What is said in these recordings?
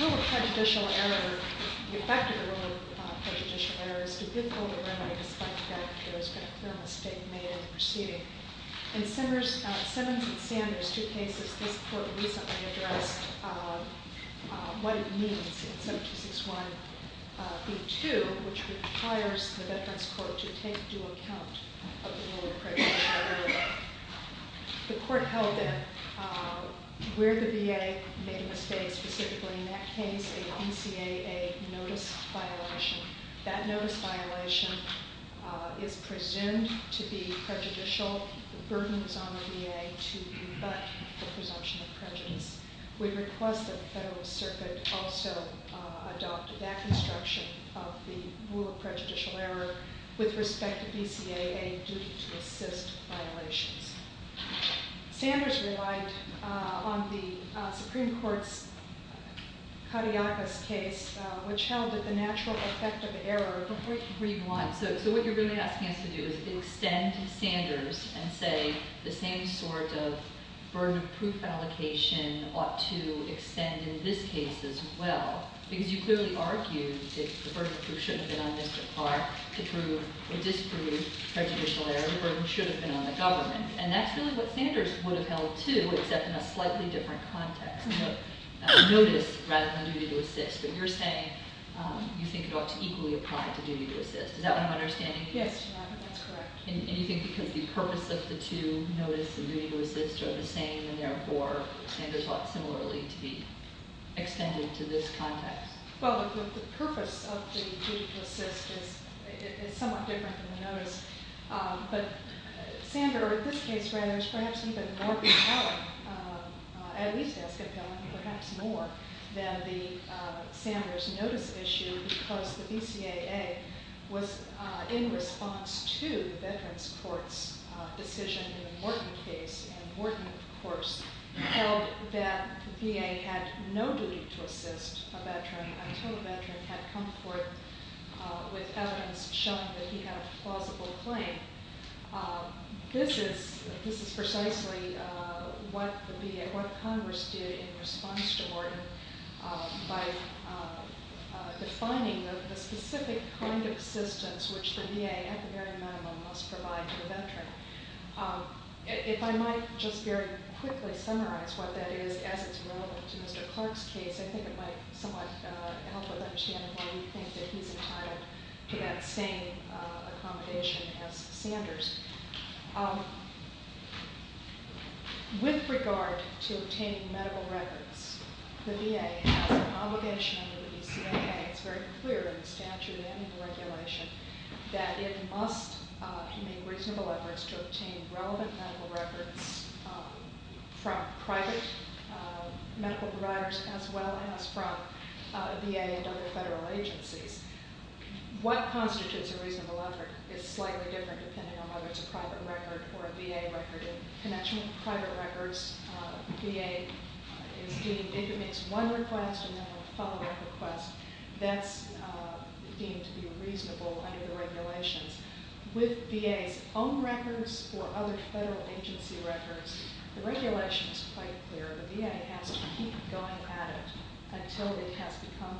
Rule of prejudicial error, the effect of the rule of prejudicial error is to give over remedy despite the fact that there has been a clear mistake made in the proceeding. In Simmons and Sanders, two cases, this court recently addressed what it means in 7261B2, which requires the Veterans Court to take due account of the rule of prejudice. The court held that where the VA made a mistake, specifically in that case, a DCAA notice violation, that notice violation is presumed to be prejudicial. The burden was on the VA to rebut the presumption of prejudice. We request that the Federalist Circuit also adopt that construction of the rule of prejudicial error with respect to DCAA duty to assist violations. Sanders relied on the Supreme Court's Katiakis case, which held that the natural effect of error, before you read one, so what you're really asking us to do is extend Sanders and say the same sort of burden of proof allocation ought to extend in this case as well. Because you clearly argued that the burden of proof shouldn't have been on Mr. Clark to prove or disprove prejudicial error. The burden should have been on the government. And that's really what Sanders would have held too, except in a slightly different context, notice rather than duty to assist. But you're saying you think it ought to equally apply to duty to assist. Is that what I'm understanding? Yes, that's correct. And you think because the purpose of the two, notice and duty to assist, are the same, and therefore Sanders ought similarly to be extended to this context? Well, the purpose of the duty to assist is somewhat different than the notice. But Sanders, in this case rather, is perhaps even more compelling, at least as compelling, perhaps more than Sanders' notice issue because the DCAA was in response to the Veterans Court's decision in the Morton case. And Morton, of course, held that the VA had no duty to assist a veteran until a veteran had come forth with evidence showing that he had a plausible claim. This is precisely what Congress did in response to Morton by defining the specific kind of assistance which the VA, at the very minimum, must provide to a veteran. If I might just very quickly summarize what that is as it's relevant to Mr. Clark's case, I think it might somewhat help us understand why we think that he's entitled to that same accommodation as Sanders. And with regard to obtaining medical records, the VA has an obligation under the DCAA, it's very clear in the statute and in the regulation, that it must make reasonable efforts to obtain relevant medical records from private medical providers as well as from VA and other federal agencies. What constitutes a reasonable effort is slightly different depending on whether it's a private record or a VA record. In connection with private records, VA is deemed, if it makes one request and then a follow-up request, that's deemed to be reasonable under the regulations. With VA's own records or other federal agency records, the regulation is quite clear. The VA has to keep going at it until it has become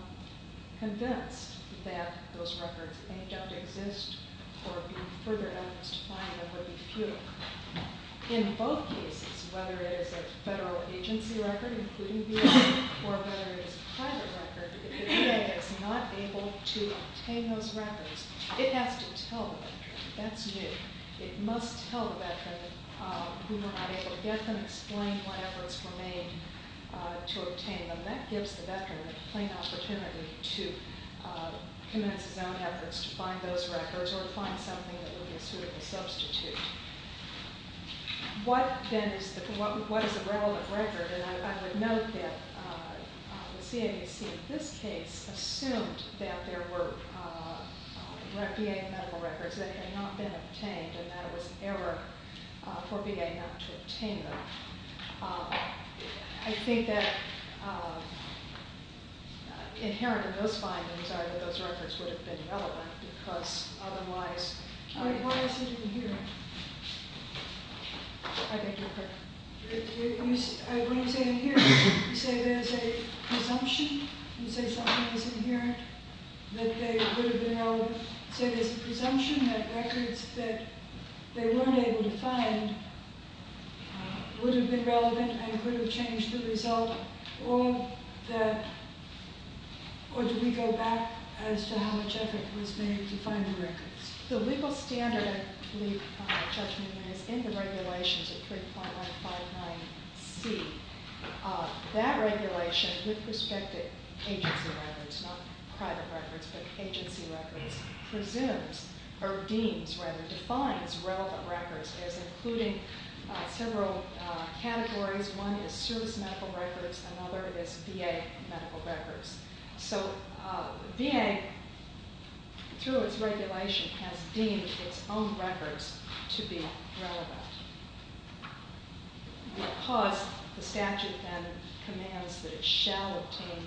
convinced that those records don't exist or be further evidenced to find them would be futile. In both cases, whether it is a federal agency record, including VA, or whether it is a private record, if the VA is not able to obtain those records, it has to tell the veteran. That's new. It must tell the veteran who were not able to get them, explain why efforts were made to obtain them. That gives the veteran a plain opportunity to commence his own efforts to find those records or find something that would be a suitable substitute. What is a relevant record? I would note that the CAAC in this case assumed that there were VA medical records that had not been obtained and that it was an error for VA not to obtain them. I think that inherent in those findings are that those records would have been relevant because otherwise... Why is it inherent? When you say inherent, you say there is a presumption that records that they weren't able to find would have been relevant and could have changed the result, or do we go back as to how much effort was made to find the records? The standard, I believe, Judge Newman, is in the regulations of 3.159C. That regulation, with respect to agency records, not private records, but agency records, presumes, or deems rather, defines relevant records as including several categories. One is service medical records, another is VA medical records. So, VA, through its regulation, has deemed its own records to be relevant. Because the statute then commands that it shall obtain,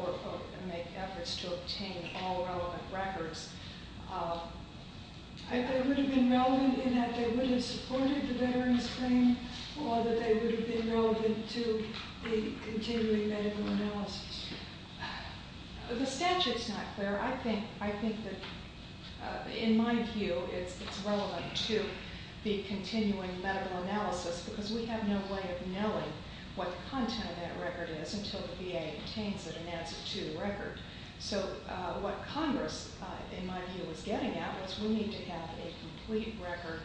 or make efforts to obtain, all relevant records, they would have been relevant in that they would have supported the Veterans Claim or that they would have been relevant to the continuing medical analysis. The statute's not clear. I think that, in my view, it's relevant to the continuing medical analysis because we have no way of knowing what the content of that record is until the VA obtains it and adds it to the record. So, what Congress, in my view, was getting at was we need to have a complete record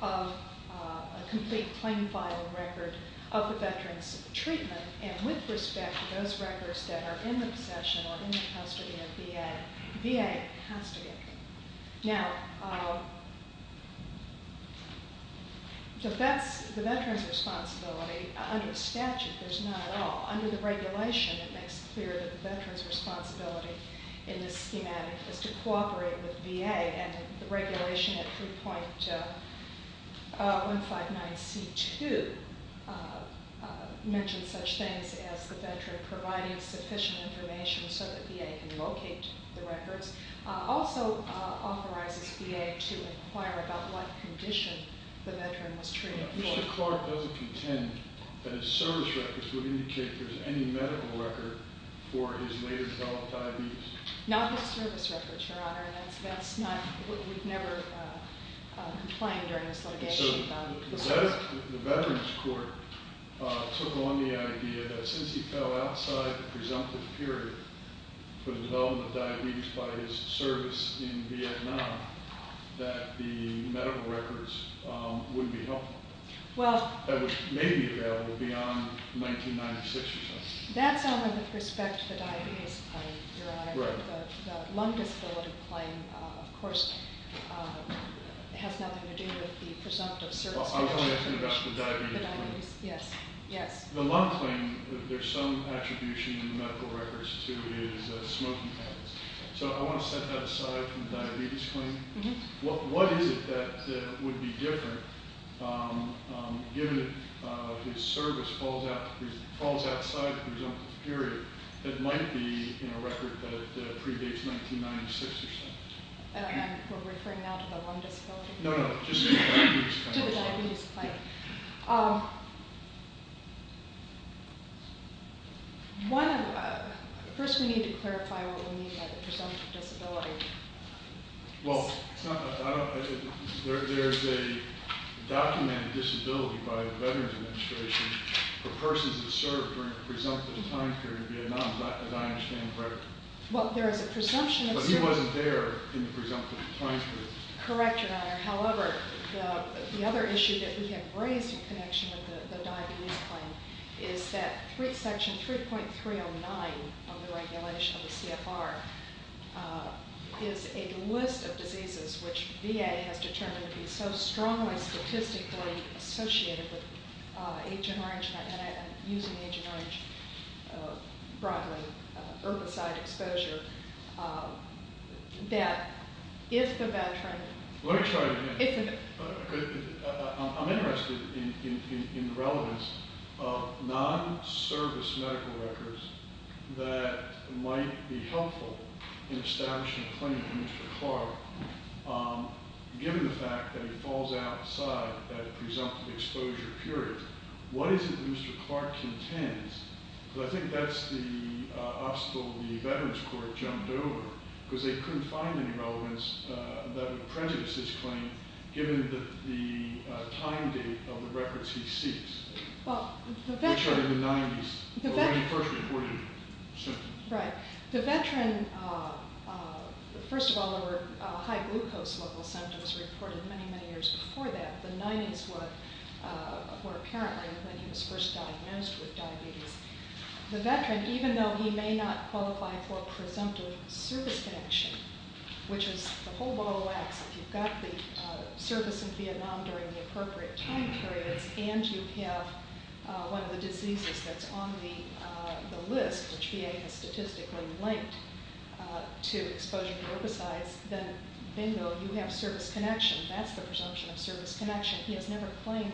of, a complete claim filing record of the Veterans' treatment, and with respect to those records that are in the possession or in the custody of VA, VA has to get them. Now, the Veterans' responsibility, under the statute, there's not at all. Under the regulation, it makes clear that the Veterans' responsibility in this schematic is to cooperate with VA, and the regulation at 3.159C2 mentions such things as the Veteran providing sufficient information so that VA can locate the records. It also authorizes VA to inquire about what condition the Veteran was treated for. The court doesn't contend that its service records would indicate there's any medical record for his later developed diabetes. Not his service records, Your Honor. That's not, we've never complained during this litigation about it. The Veterans' Court took on the idea that since he fell outside the presumptive period for the development of diabetes by his service in Vietnam, that the medical records wouldn't be helpful. Well- That may be available beyond 1996, Your Honor. That's out of respect for diabetes, Your Honor. Right. The lung disability claim, of course, has nothing to do with the presumptive service record. Well, I was going to ask you about the diabetes claim. Yes, yes. The lung claim, there's some attribution in the medical records to his smoking habits. So I want to set that aside from the diabetes claim. Mm-hm. What is it that would be different, given that his service falls outside the presumptive period, that might be in a record that predates 1996 or something? We're referring now to the lung disability claim? No, no, just the diabetes claim. To the diabetes claim. Yeah. First, we need to clarify what we mean by the presumptive disability. Well, there's a documented disability by the Veterans Administration for persons that served during the presumptive time period in Vietnam, as I understand correctly. Well, there is a presumption of service- But he wasn't there in the presumptive time period. Correct, Your Honor. However, the other issue that we have raised in connection with the diabetes claim is that Section 3.309 of the regulation of the CFR is a list of diseases, which VA has determined to be so strongly statistically associated with Agent Orange and using Agent Orange broadly, herbicide exposure, that if the veteran- Let me try again. It's okay. I'm interested in the relevance of non-service medical records that might be helpful in establishing a claim for Mr. Clark, given the fact that he falls outside that presumptive exposure period. What is it that Mr. Clark contends? Because I think that's the obstacle the Veterans Court jumped over, because they couldn't find any relevance that would prejudice his claim, given the time date of the records he seeks. Well, the veteran- Which are in the 90s, when he first reported symptoms. Right. The veteran- First of all, there were high glucose level symptoms reported many, many years before that. The 90s were apparently when he was first diagnosed with diabetes. The veteran, even though he may not qualify for presumptive service connection, which is the whole ball of wax. If you've got the service in Vietnam during the appropriate time periods and you have one of the diseases that's on the list, which VA has statistically linked to exposure to herbicides, then, bingo, you have service connection. That's the presumption of service connection. He has never claimed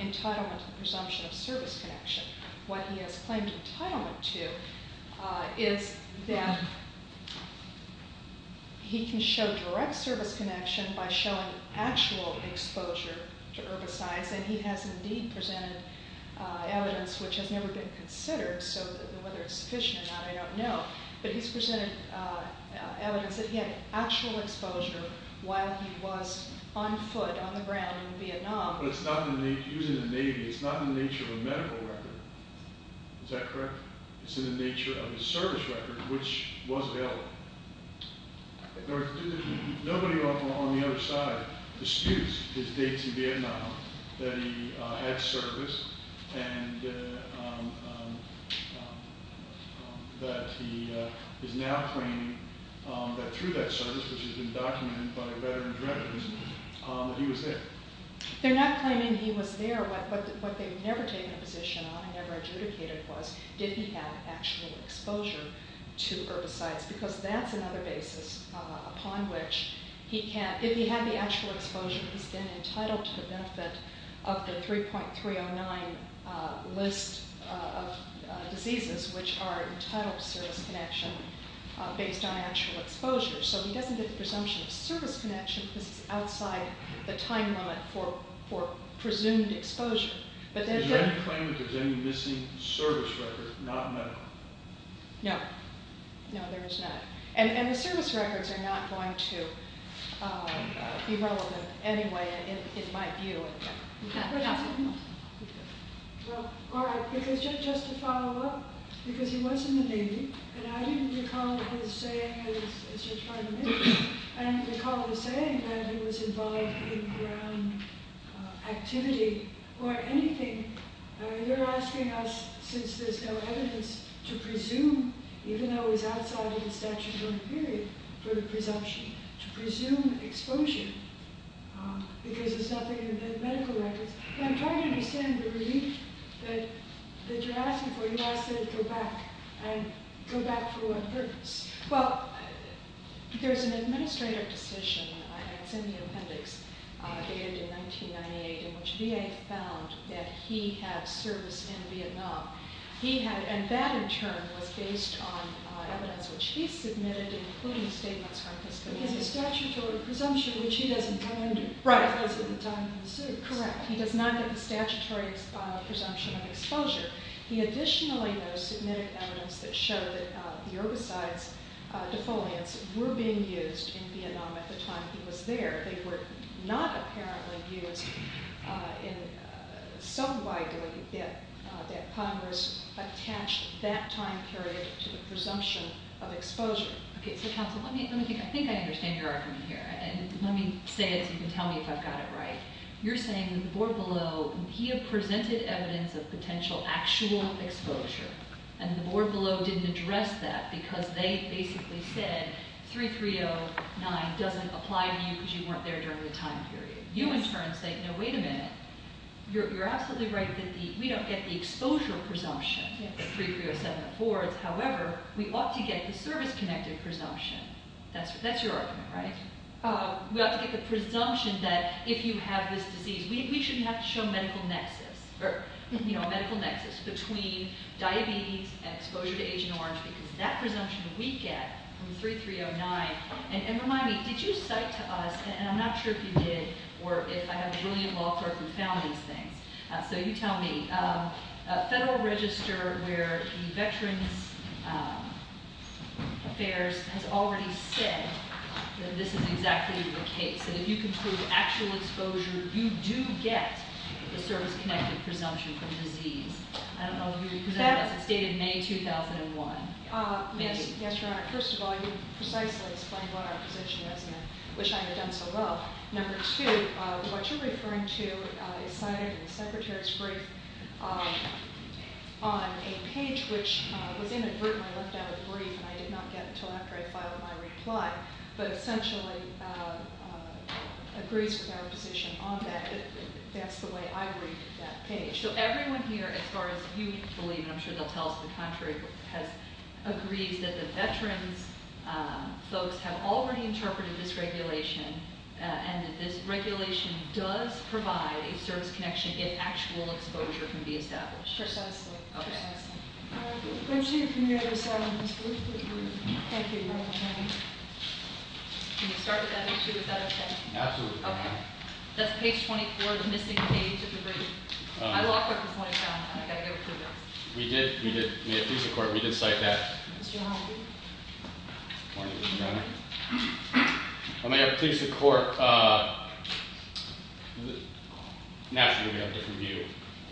entitlement to the presumption of service connection. What he has claimed entitlement to is that he can show direct service connection by showing actual exposure to herbicides, and he has indeed presented evidence, which has never been considered, so whether it's sufficient or not, I don't know. But he's presented evidence that he had actual exposure while he was on foot, on the ground, in Vietnam. But it's not in the- he was in the Navy. It's not in the nature of a medical record. Is that correct? It's in the nature of a service record, which was available. Nobody on the other side disputes his dates in Vietnam, that he had service, and that he is now claiming that through that service, which has been documented by veteran's records, that he was there. They're not claiming he was there, but what they've never taken a position on and never adjudicated was, did he have actual exposure to herbicides, because that's another basis upon which he can- if he had the actual exposure, he's been entitled to the benefit of the 3.309 list of diseases, which are entitled to service connection based on actual exposure. So he doesn't get the presumption of service connection because it's outside the time limit for presumed exposure. Is there any claim that there's any missing service record, not medical? No. No, there is not. And the service records are not going to be relevant anyway, in my view. Just to follow up, because he was in the Navy, and I didn't recall his saying that he was involved in ground activity or anything. You're asking us, since there's no evidence to presume, even though he's outside of the statutory period for presumption, to presume exposure because there's nothing in the medical records. But I'm trying to understand the relief that you're asking for. You're asking to go back and go back for one purpose. Well, there's an administrative decision, and it's in the appendix, dated in 1998, in which VA found that he had service in Vietnam. And that, in turn, was based on evidence which he submitted, including statements from his committee. But he has a statutory presumption, which he doesn't get under because of the time of the suit. Correct. He does not get the statutory presumption of exposure. He additionally, though, submitted evidence that showed that the herbicides, defoliants, were being used in Vietnam at the time he was there. They were not apparently used in some way that Congress attached that time period to the presumption of exposure. Okay. So, counsel, let me think. I think I understand your argument here. And let me say it so you can tell me if I've got it right. You're saying that the board below, he had presented evidence of potential actual exposure, and the board below didn't address that because they basically said 3309 doesn't apply to you because you weren't there during the time period. You, in turn, say, no, wait a minute. You're absolutely right that we don't get the exposure presumption that 3307 affords. However, we ought to get the service-connected presumption. That's your argument, right? We ought to get the presumption that if you have this disease, we shouldn't have to show medical nexus or, you know, a medical nexus between diabetes and exposure to Agent Orange because that presumption we get from 3309. And remind me, did you cite to us, and I'm not sure if you did or if I have a brilliant law clerk who found these things. So you tell me, a federal register where the Veterans Affairs has already said that this is exactly the case, and if you can prove actual exposure, you do get the service-connected presumption from disease. I don't know if you presented that. It's dated May 2001. Yes, Your Honor. First of all, you precisely explained what our position is, and I wish I had done so well. Number two, what you're referring to is cited in the Secretary's brief on a page which was inadvertently left out of the brief, and I did not get until after I filed my reply, but essentially agrees with our position on that. That's the way I read that page. So everyone here, as far as you believe, and I'm sure they'll tell us the contrary, has agreed that the veterans folks have already interpreted this regulation and that this regulation does provide a service connection if actual exposure can be established. Precisely. Okay. Approaching a committee of assignments, please conclude. Thank you. You're welcome, Your Honor. Can we start with that issue? Is that okay? Absolutely. Okay. That's page 24, the missing page of the brief. I locked up this morning, Your Honor, and I've got to give it to you now. We did. We did. May it please the Court, we did cite that. Mr. Humphrey. Good morning, Your Honor. May it please the Court, naturally we have a different view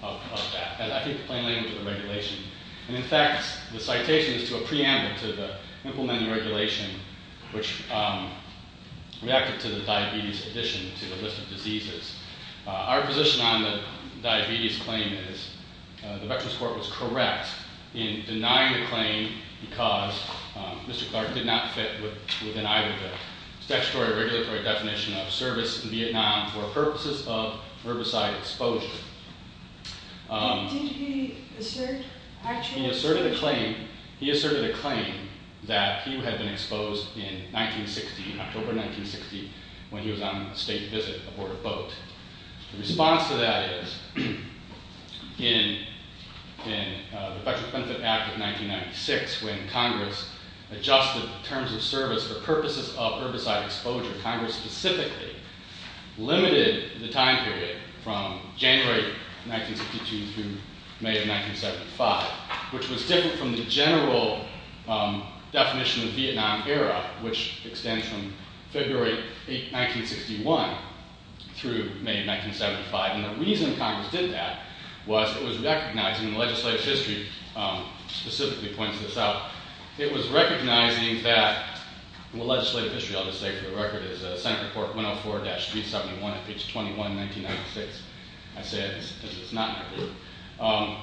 of that. I think the plain language of the regulation. And, in fact, the citation is to a preamble to the implemented regulation which reacted to the diabetes addition to the list of diseases. Our position on the diabetes claim is the Veterans Court was correct in denying the claim because Mr. Clark did not fit within either of those. Statutory or regulatory definition of service in Vietnam for purposes of herbicide exposure. Did he assert actual exposure? He asserted a claim that he had been exposed in 1960, in October 1960, when he was on a state visit aboard a boat. The response to that is in the Federal Benefit Act of 1996 when Congress adjusted the terms of service for purposes of herbicide exposure, Congress specifically limited the time period from January 1962 through May of 1975, which was different from the general definition of Vietnam era, which extends from February 1961 through May of 1975. And the reason Congress did that was it was recognizing, and the legislative history specifically points this out, it was recognizing that, well legislative history I'll just say for the record is Senate Report 104-371, page 21, 1996. I say it because it's not in there.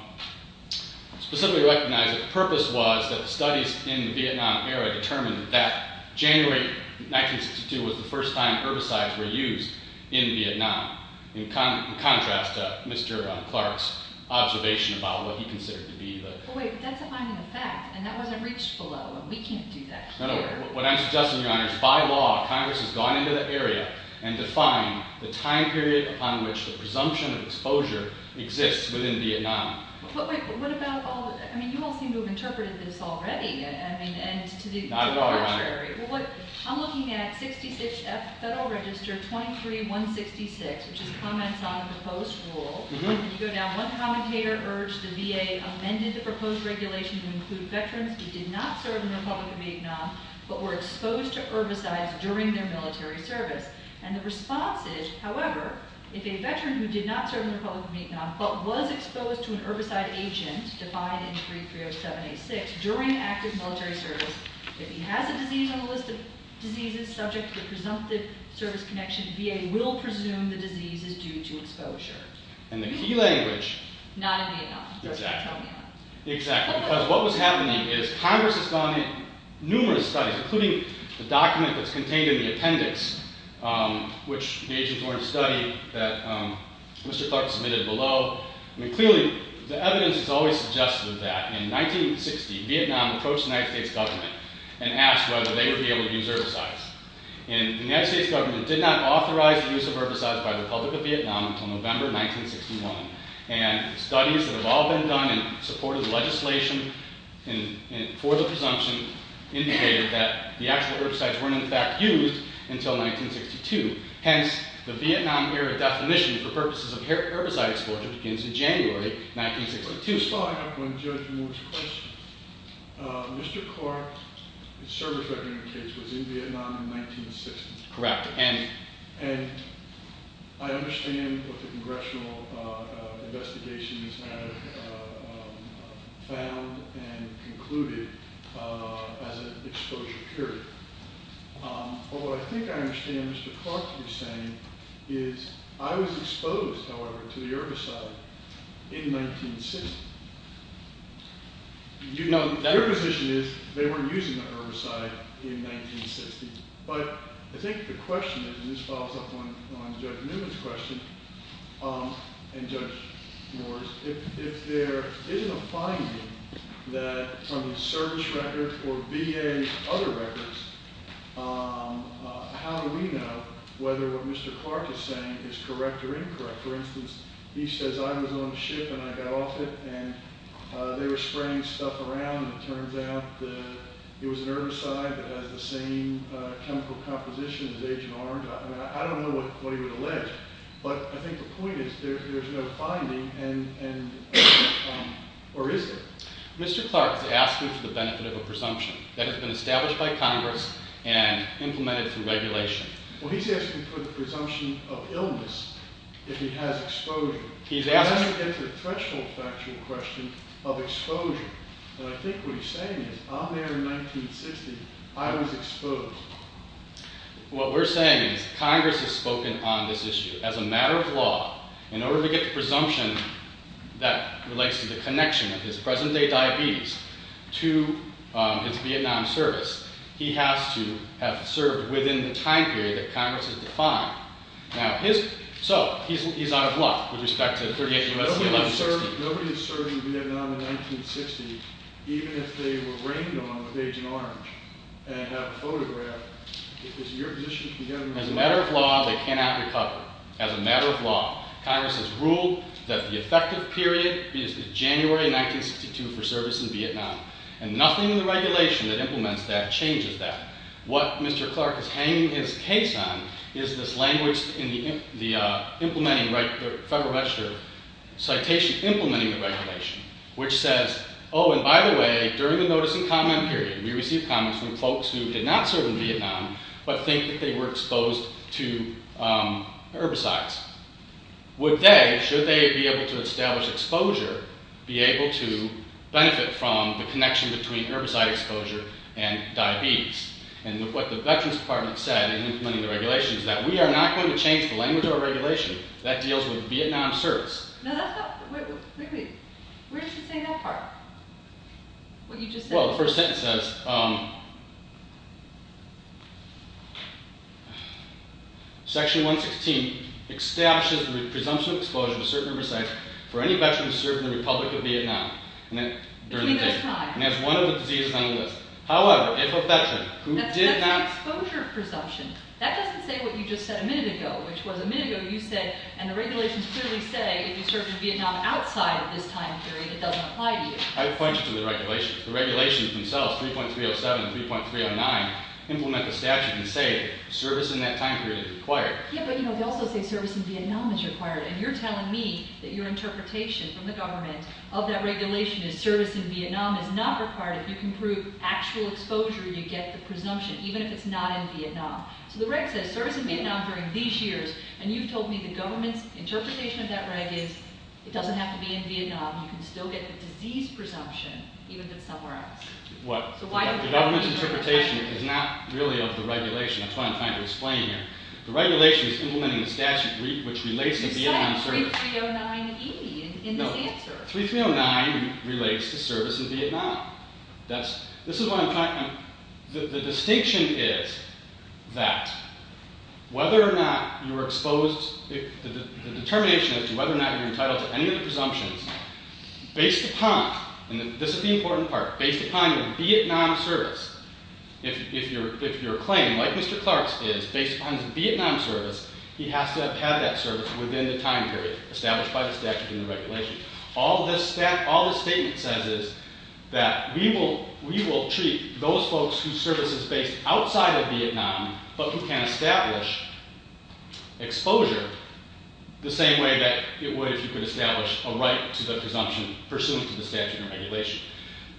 Specifically recognized that the purpose was that the studies in the Vietnam era determined that January 1962 was the first time herbicides were used in Vietnam. In contrast to Mr. Clark's observation about what he considered to be the... No, no. What I'm suggesting, Your Honor, is by law Congress has gone into the area and defined the time period upon which the presumption of exposure exists within Vietnam. But wait, what about all the... I mean you all seem to have interpreted this already. Not at all, Your Honor. I'm looking at 66F Federal Register 23-166, which is comments on a proposed rule. You go down one commentator urged the VA amended the proposed regulation to include veterans who did not serve in the Republic of Vietnam, but were exposed to herbicides during their military service. And the response is, however, if a veteran who did not serve in the Republic of Vietnam, but was exposed to an herbicide agent, defined in 3307-86, during active military service, if he has a disease on the list of diseases subject to the presumptive service connection, VA will presume the disease is due to exposure. And the key language... Not in Vietnam. Exactly. Because what was happening is Congress has gone in numerous studies, including the document that's contained in the appendix, which the agents wanted to study, that Mr. Clark submitted below. I mean clearly the evidence has always suggested that in 1960 Vietnam approached the United States government and asked whether they would be able to use herbicides. And the United States government did not authorize the use of herbicides by the Republic of Vietnam until November 1961. And studies that have all been done and supported legislation for the presumption indicated that the actual herbicides weren't in fact used until 1962. Hence, the Vietnam-era definition for purposes of herbicide exposure begins in January 1962. Just following up on Judge Moore's question, Mr. Clark's service record indicates he was in Vietnam in 1960. Correct. And I understand what the congressional investigations have found and concluded as an exposure period. But what I think I understand what Mr. Clark is saying is I was exposed, however, to the herbicide in 1960. Your position is they weren't using the herbicide in 1960. But I think the question is, and this follows up on Judge Newman's question and Judge Moore's, if there isn't a finding that from the service record or VA other records, how do we know whether what Mr. Clark is saying is correct or incorrect? For instance, he says I was on a ship and I got off it and they were spraying stuff around and it turns out it was an herbicide that has the same chemical composition as Agent Orange. I don't know what he would allege, but I think the point is there's no finding or is there? Mr. Clark is asking for the benefit of a presumption that has been established by Congress and implemented through regulation. Well, he's asking for the presumption of illness if he has exposure. He's asking – I want to get to the threshold factual question of exposure. And I think what he's saying is I'm there in 1960. I was exposed. What we're saying is Congress has spoken on this issue. As a matter of law, in order to get the presumption that relates to the connection of his present-day diabetes to his Vietnam service, he has to have served within the time period that Congress has defined. So he's out of luck with respect to 38 U.S.C. 1160. Nobody is serving Vietnam in 1960 even if they were rained on with Agent Orange and have a photograph. Is your position to the government – As a matter of law, they cannot recover. As a matter of law, Congress has ruled that the effective period is January 1962 for service in Vietnam. And nothing in the regulation that implements that changes that. What Mr. Clark is hanging his case on is this language in the implementing – Federal Register citation implementing the regulation, which says, oh, and by the way, during the notice and comment period, we received comments from folks who did not serve in Vietnam but think that they were exposed to herbicides. Would they, should they be able to establish exposure, be able to benefit from the connection between herbicide exposure and diabetes? And what the Veterans Department said in implementing the regulation is that we are not going to change the language or regulation that deals with Vietnam service. No, that's not – wait, wait. Where does it say that part? What you just said. Well, the first sentence says section 116 establishes the presumption of exposure to certain herbicides for any veteran who served in the Republic of Vietnam during that time. And that's one of the diseases on the list. However, if a veteran who did not – That's an exposure presumption. That doesn't say what you just said a minute ago, which was a minute ago you said – and the regulations clearly say if you served in Vietnam outside of this time period, it doesn't apply to you. I would point you to the regulations. The regulations themselves, 3.307 and 3.309, implement the statute and say service in that time period is required. Yeah, but, you know, they also say service in Vietnam is required, and you're telling me that your interpretation from the government of that regulation is service in Vietnam is not required. If you can prove actual exposure, you get the presumption, even if it's not in Vietnam. So the reg says service in Vietnam during these years, and you've told me the government's interpretation of that reg is it doesn't have to be in Vietnam. You can still get the disease presumption, even if it's somewhere else. What? The government's interpretation is not really of the regulation. That's what I'm trying to explain here. The regulation is implementing the statute, which relates to Vietnam service. You said 3.309E in the answer. No, 3.309 relates to service in Vietnam. This is what I'm trying – the distinction is that whether or not you're exposed – the determination as to whether or not you're entitled to any of the presumptions, based upon – and this is the important part – based upon your Vietnam service, if your claim, like Mr. Clark's, is based upon his Vietnam service, he has to have had that service within the time period established by the statute and the regulation. All this statement says is that we will treat those folks whose service is based outside of Vietnam, but who can establish exposure the same way that it would if you could establish a right to the presumption pursuant to the statute and regulation.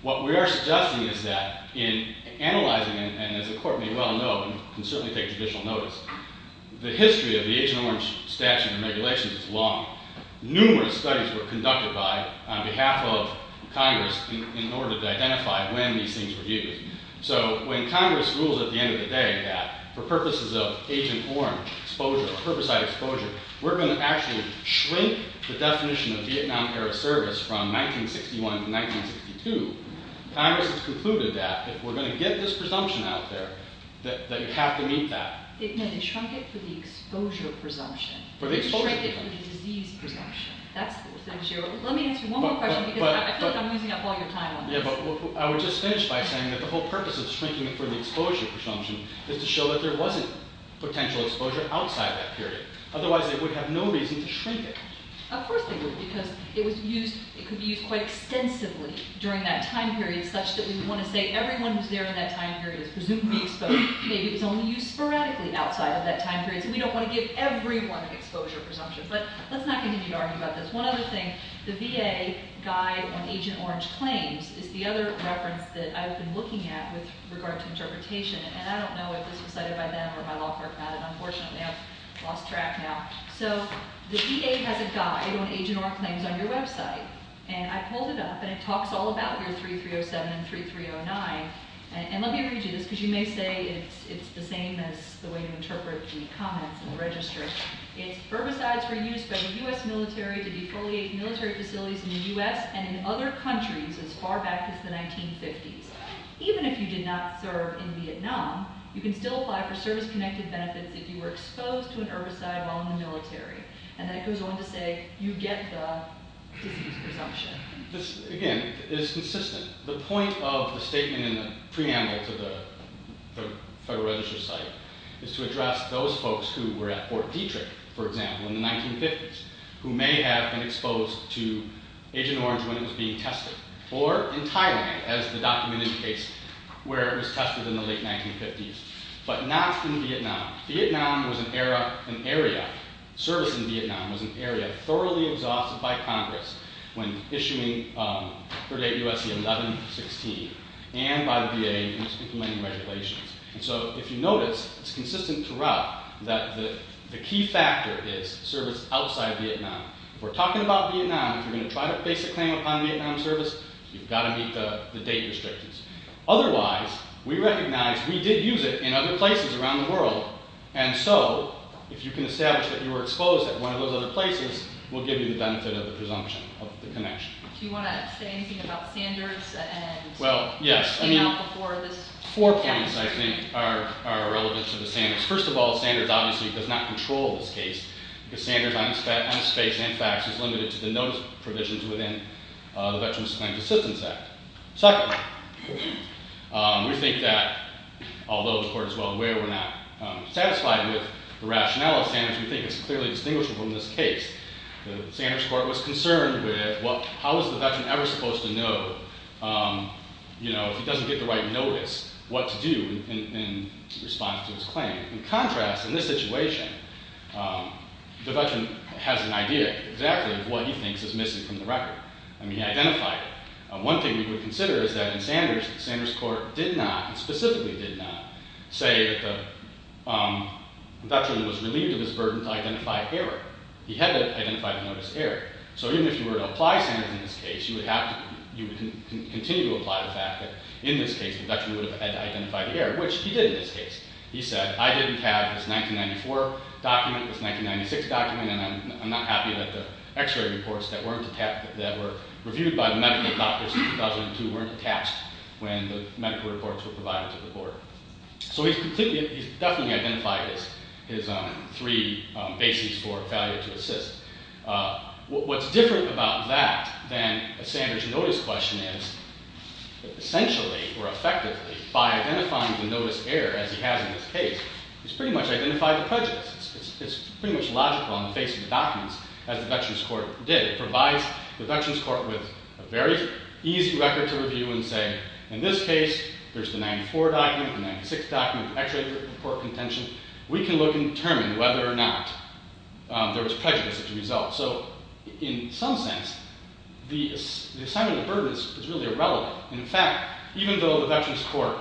What we are suggesting is that in analyzing – and as the Court may well know, and can certainly take judicial notice – the history of the Agent Orange statute and regulations is long. Numerous studies were conducted by, on behalf of, Congress in order to identify when these things were used. So when Congress rules at the end of the day that, for purposes of Agent Orange exposure, herbicide exposure, we're going to actually shrink the definition of Vietnam-era service from 1961 to 1962, Congress has concluded that, if we're going to get this presumption out there, that you have to meet that. They shrunk it for the exposure presumption. For the exposure presumption. They shrunk it for the disease presumption. Let me ask you one more question, because I feel like I'm losing up all your time on this. Yeah, but I would just finish by saying that the whole purpose of shrinking it for the exposure presumption is to show that there wasn't potential exposure outside that period. Otherwise, they would have no reason to shrink it. Of course they would, because it could be used quite extensively during that time period, such that we would want to say everyone who's there in that time period is presumably exposed. Maybe it was only used sporadically outside of that time period, so we don't want to give everyone exposure presumptions. But let's not continue to argue about this. One other thing. The VA Guide on Agent Orange Claims is the other reference that I've been looking at with regard to interpretation, and I don't know if this was cited by them or my law firm had it. Unfortunately, I've lost track now. So the VA has a guide on Agent Orange Claims on your website, and I pulled it up, and it talks all about year 3307 and 3309. And let me read you this, because you may say it's the same as the way to interpret the comments in the register. It's herbicides were used by the U.S. military to defoliate military facilities in the U.S. and in other countries as far back as the 1950s. Even if you did not serve in Vietnam, you can still apply for service-connected benefits if you were exposed to an herbicide while in the military. And then it goes on to say you get the disease presumption. This, again, is consistent. The point of the statement in the preamble to the Federal Register site is to address those folks who were at Fort Detrick, for example, in the 1950s, who may have been exposed to Agent Orange when it was being tested, or in Thailand, as the document indicates, where it was tested in the late 1950s, but not in Vietnam. Vietnam was an area, service in Vietnam was an area thoroughly exhausted by Congress when issuing 38 U.S.C. 1116 and by the VA in implementing regulations. So if you notice, it's consistent throughout that the key factor is service outside Vietnam. If we're talking about Vietnam, if you're going to try to base a claim upon a Vietnam service, you've got to meet the date restrictions. Otherwise, we recognize we did use it in other places around the world, and so if you can establish that you were exposed at one of those other places, we'll give you the benefit of the presumption of the connection. Do you want to say anything about standards? Well, yes. I mean, four points, I think, are relevant to the standards. First of all, standards obviously does not control this case because standards on space and facts is limited to the notice provisions within the Veterans Claims Assistance Act. Secondly, we think that although the Court is well aware we're not satisfied with the rationale of standards, we think it's clearly distinguishable in this case. The Sanders Court was concerned with how is the veteran ever supposed to know, you know, if he doesn't get the right notice, what to do in response to his claim. In contrast, in this situation, the veteran has an idea exactly of what he thinks is missing from the record, and he identified it. One thing we would consider is that in Sanders, the Sanders Court did not, and specifically did not, say that the veteran was relieved of his burden to identify error. He had to identify the notice of error. So even if you were to apply Sanders in this case, you would continue to apply the fact that in this case, the veteran would have had to identify the error, which he did in this case. He said, I didn't have his 1994 document, his 1996 document, and I'm not happy that the x-ray reports that were reviewed by the medical doctors in 2002 weren't attached when the medical reports were provided to the Board. So he's completely, he's definitely identified his three bases for failure to assist. What's different about that than a Sanders notice question is, essentially, or effectively, by identifying the notice of error, as he has in this case, he's pretty much identified the prejudice. It's pretty much logical on the face of the documents, as the Veterans Court did. It provides the Veterans Court with a very easy record to review and say, in this case, there's the 94 document, the 96 document, the x-ray report contention. We can look and determine whether or not there was prejudice as a result. So in some sense, the assignment of the burden is really irrelevant. In fact, even though the Veterans Court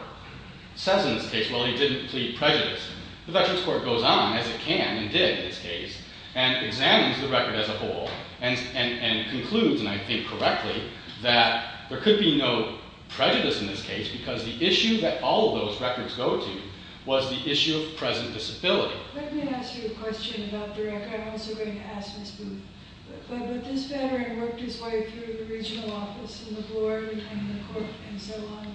says in this case, well, he didn't plead prejudice, the Veterans Court goes on, as it can and did in this case, and examines the record as a whole, and concludes, and I think correctly, that there could be no prejudice in this case because the issue that all of those records go to was the issue of present disability. Let me ask you a question about the record. I'm also going to ask Ms. Booth. But this Veteran worked his way through the Regional Office and the Board and the Court and so on.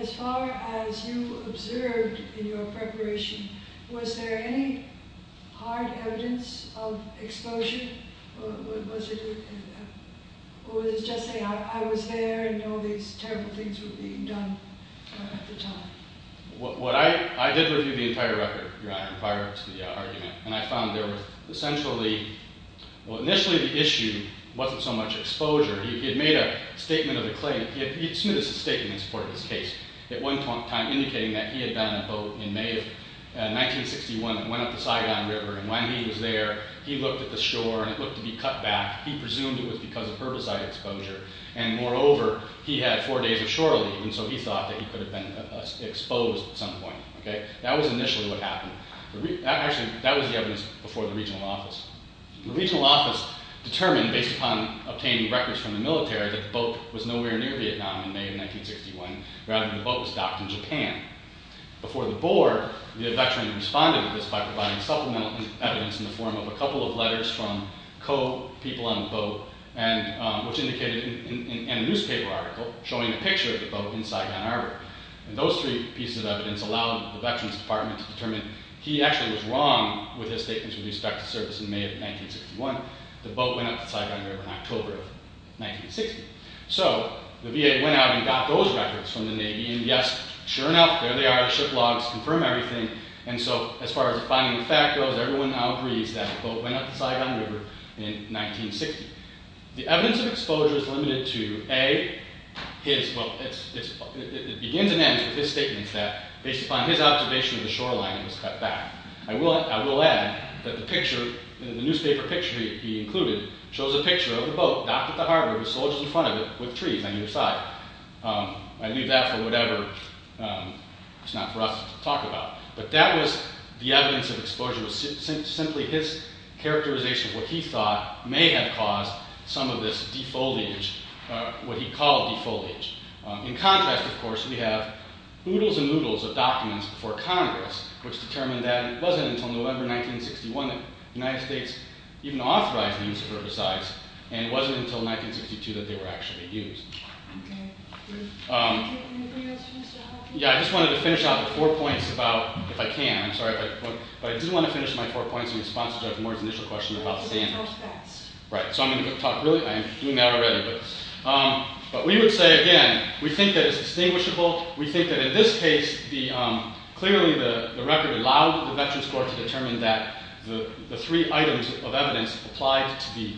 As far as you observed in your preparation, was there any hard evidence of exposure? Or was it just saying, I was there and all these terrible things were being done at the time? What I did review the entire record prior to the argument, and I found there was essentially, well, initially the issue wasn't so much exposure. He had made a statement of a claim. He submitted a statement in support of this case at one time, indicating that he had done a boat in May of 1961 that went up the Saigon River, and when he was there, he looked at the shore and it looked to be cut back. He presumed it was because of herbicide exposure, and moreover, he had four days of shore leave, and so he thought that he could have been exposed at some point. That was initially what happened. Actually, that was the evidence before the Regional Office. The Regional Office determined, based upon obtaining records from the military, that the boat was nowhere near Vietnam in May of 1961, rather the boat was docked in Japan. Before the Board, the veteran responded to this by providing supplemental evidence in the form of a couple of letters from co-people on the boat, which indicated in a newspaper article showing a picture of the boat in Saigon Harbor. He actually was wrong with his statements with respect to service in May of 1961. The boat went up the Saigon River in October of 1960. So the VA went out and got those records from the Navy, and yes, sure enough, there they are, the ship logs confirm everything, and so as far as the finding of fact goes, everyone now agrees that the boat went up the Saigon River in 1960. The evidence of exposure is limited to, A, it begins and ends with his statements that based upon his observation of the shoreline, it was cut back. I will add that the newspaper picture he included shows a picture of the boat docked at the harbor with soldiers in front of it with trees on either side. I leave that for whatever, it's not for us to talk about. But that was the evidence of exposure, simply his characterization of what he thought may have caused some of this defoliage, what he called defoliage. In contrast, of course, we have oodles and oodles of documents before Congress which determined that it wasn't until November 1961 that the United States even authorized the use of herbicides, and it wasn't until 1962 that they were actually used. Yeah, I just wanted to finish off with four points about, if I can, I'm sorry, but I did want to finish my four points in response to Judge Moore's initial question about standards. Right, so I'm going to talk really, I'm doing that already. But we would say, again, we think that it's distinguishable. We think that in this case, clearly the record allowed the Veterans Court to determine that the three items of evidence applied to the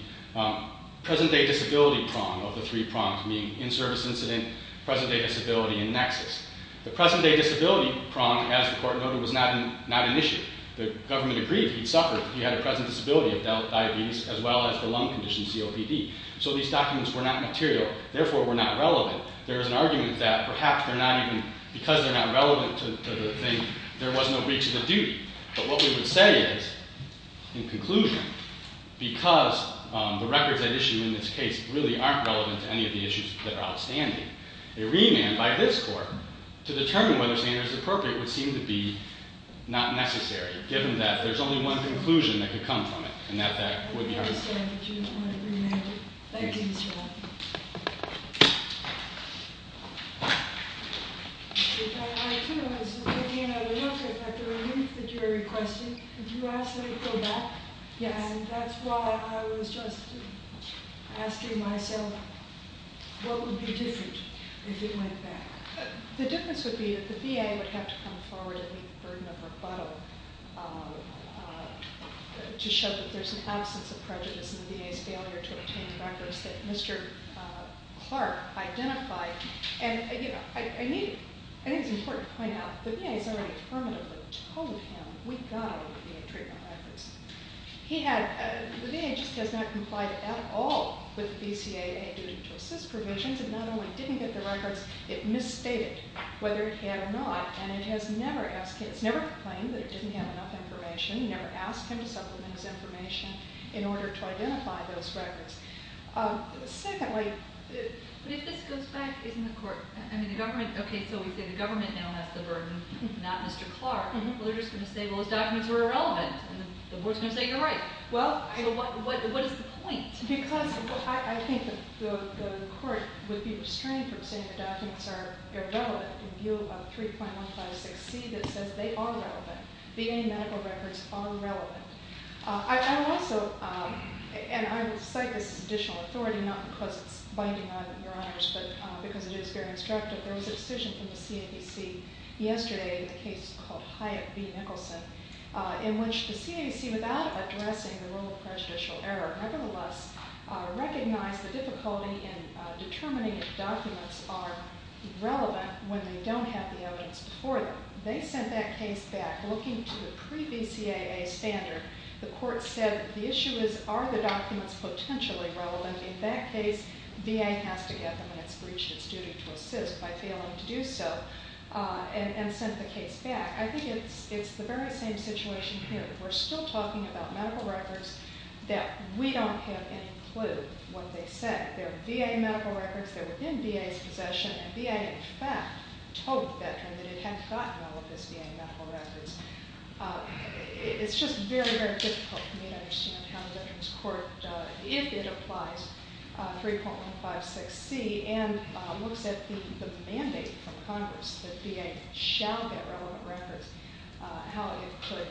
present-day disability prong of the three prongs, meaning in-service incident, present-day disability, and nexus. The present-day disability prong, as the Court noted, was not an issue. The government agreed he suffered, he had a present disability of diabetes, as well as the lung condition, COPD. So these documents were not material, therefore were not relevant. There is an argument that perhaps they're not even, because they're not relevant to the thing, there was no breach of the duty. But what we would say is, in conclusion, because the records at issue in this case really aren't relevant to any of the issues that are outstanding, a remand by this Court to determine whether standard is appropriate would seem to be not necessary, given that there's only one conclusion that could come from it, and that that would be... I understand that you don't want a remand. Thank you, Mr. Latham. What I want to do is take another look at the relief that you are requesting. Could you ask that it go back? Yes. And that's why I was just asking myself, what would be different if it went back? The difference would be that the VA would have to come forward and meet the burden of rebuttal to show that there's an absence of prejudice in the VA's failure to obtain the records that Mr. Clark identified. And, you know, I think it's important to point out, the VA has already permanently told him, we've got to get the VA treatment records. The VA just has not complied at all with the BCAA duty to assist provisions. It not only didn't get the records, it misstated whether it had or not, and it has never complained that it didn't have enough information, never asked him to supplement his information in order to identify those records. Secondly... But if this goes back, isn't the Court... Okay, so we say the government now has the burden, not Mr. Clark. Well, they're just going to say, well, those documents were irrelevant, and the Board's going to say you're right. Well... So what is the point? Because I think the Court would be restrained from saying the documents are irrelevant in view of a 3.156c that says they are relevant. VA medical records are relevant. I would also, and I would cite this as additional authority, not because it's binding on Your Honors, but because it is very instructive. There was a decision from the CABC yesterday in a case called Hyatt v. Nicholson in which the CABC, without addressing the role of prejudicial error, nevertheless recognized the difficulty in determining if documents are relevant when they don't have the evidence before them. They sent that case back looking to the pre-BCAA standard. The Court said the issue is, are the documents potentially relevant? In that case, VA has to get them, and it's breached its duty to assist by failing to do so, and sent the case back. I think it's the very same situation here. We're still talking about medical records that we don't have any clue what they say. They're VA medical records. They're within VA's possession. And VA, in fact, told the veteran that it had gotten all of his VA medical records. It's just very, very difficult for me to understand how the Veterans Court, if it applies 3.156C and looks at the mandate from Congress that VA shall get relevant records, how it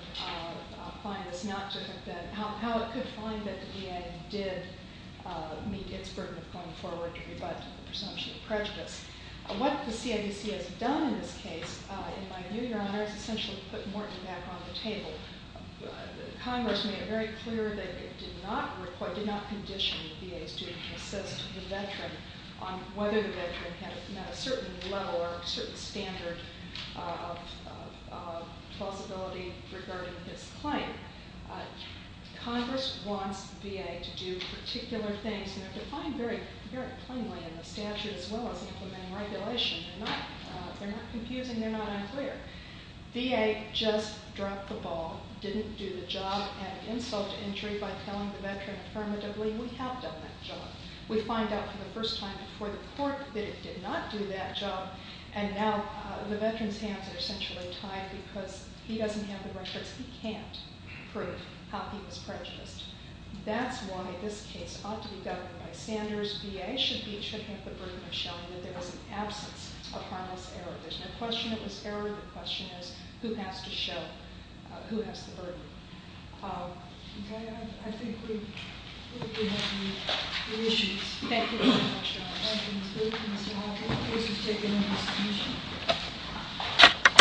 could find that the VA did meet its burden of going forward to rebut the presumption of prejudice. What the CIDC has done in this case, in my view, Your Honor, is essentially put Morton back on the table. Congress made it very clear that it did not condition the VA's duty to assist the veteran on whether the veteran had met a certain level or a certain standard of plausibility regarding his claim. Congress wants VA to do particular things, and they're defined very plainly in the statute as well as implementing regulation. They're not confusing. They're not unclear. VA just dropped the ball, didn't do the job and insult injury by telling the veteran affirmatively, we have done that job. We find out for the first time before the court that it did not do that job, and now the veteran's hands are essentially tied because he doesn't have the records. He can't prove how he was prejudiced. That's why this case ought to be governed by Sanders. VA should have the burden of showing that there was an absence of harmless error. There's no question it was error. The question is who has to show who has the burden. Okay. I think we have the issues. Thank you very much, Your Honor. Thank you, Ms. Booth, Mr. Hawley. The case is taken into submission.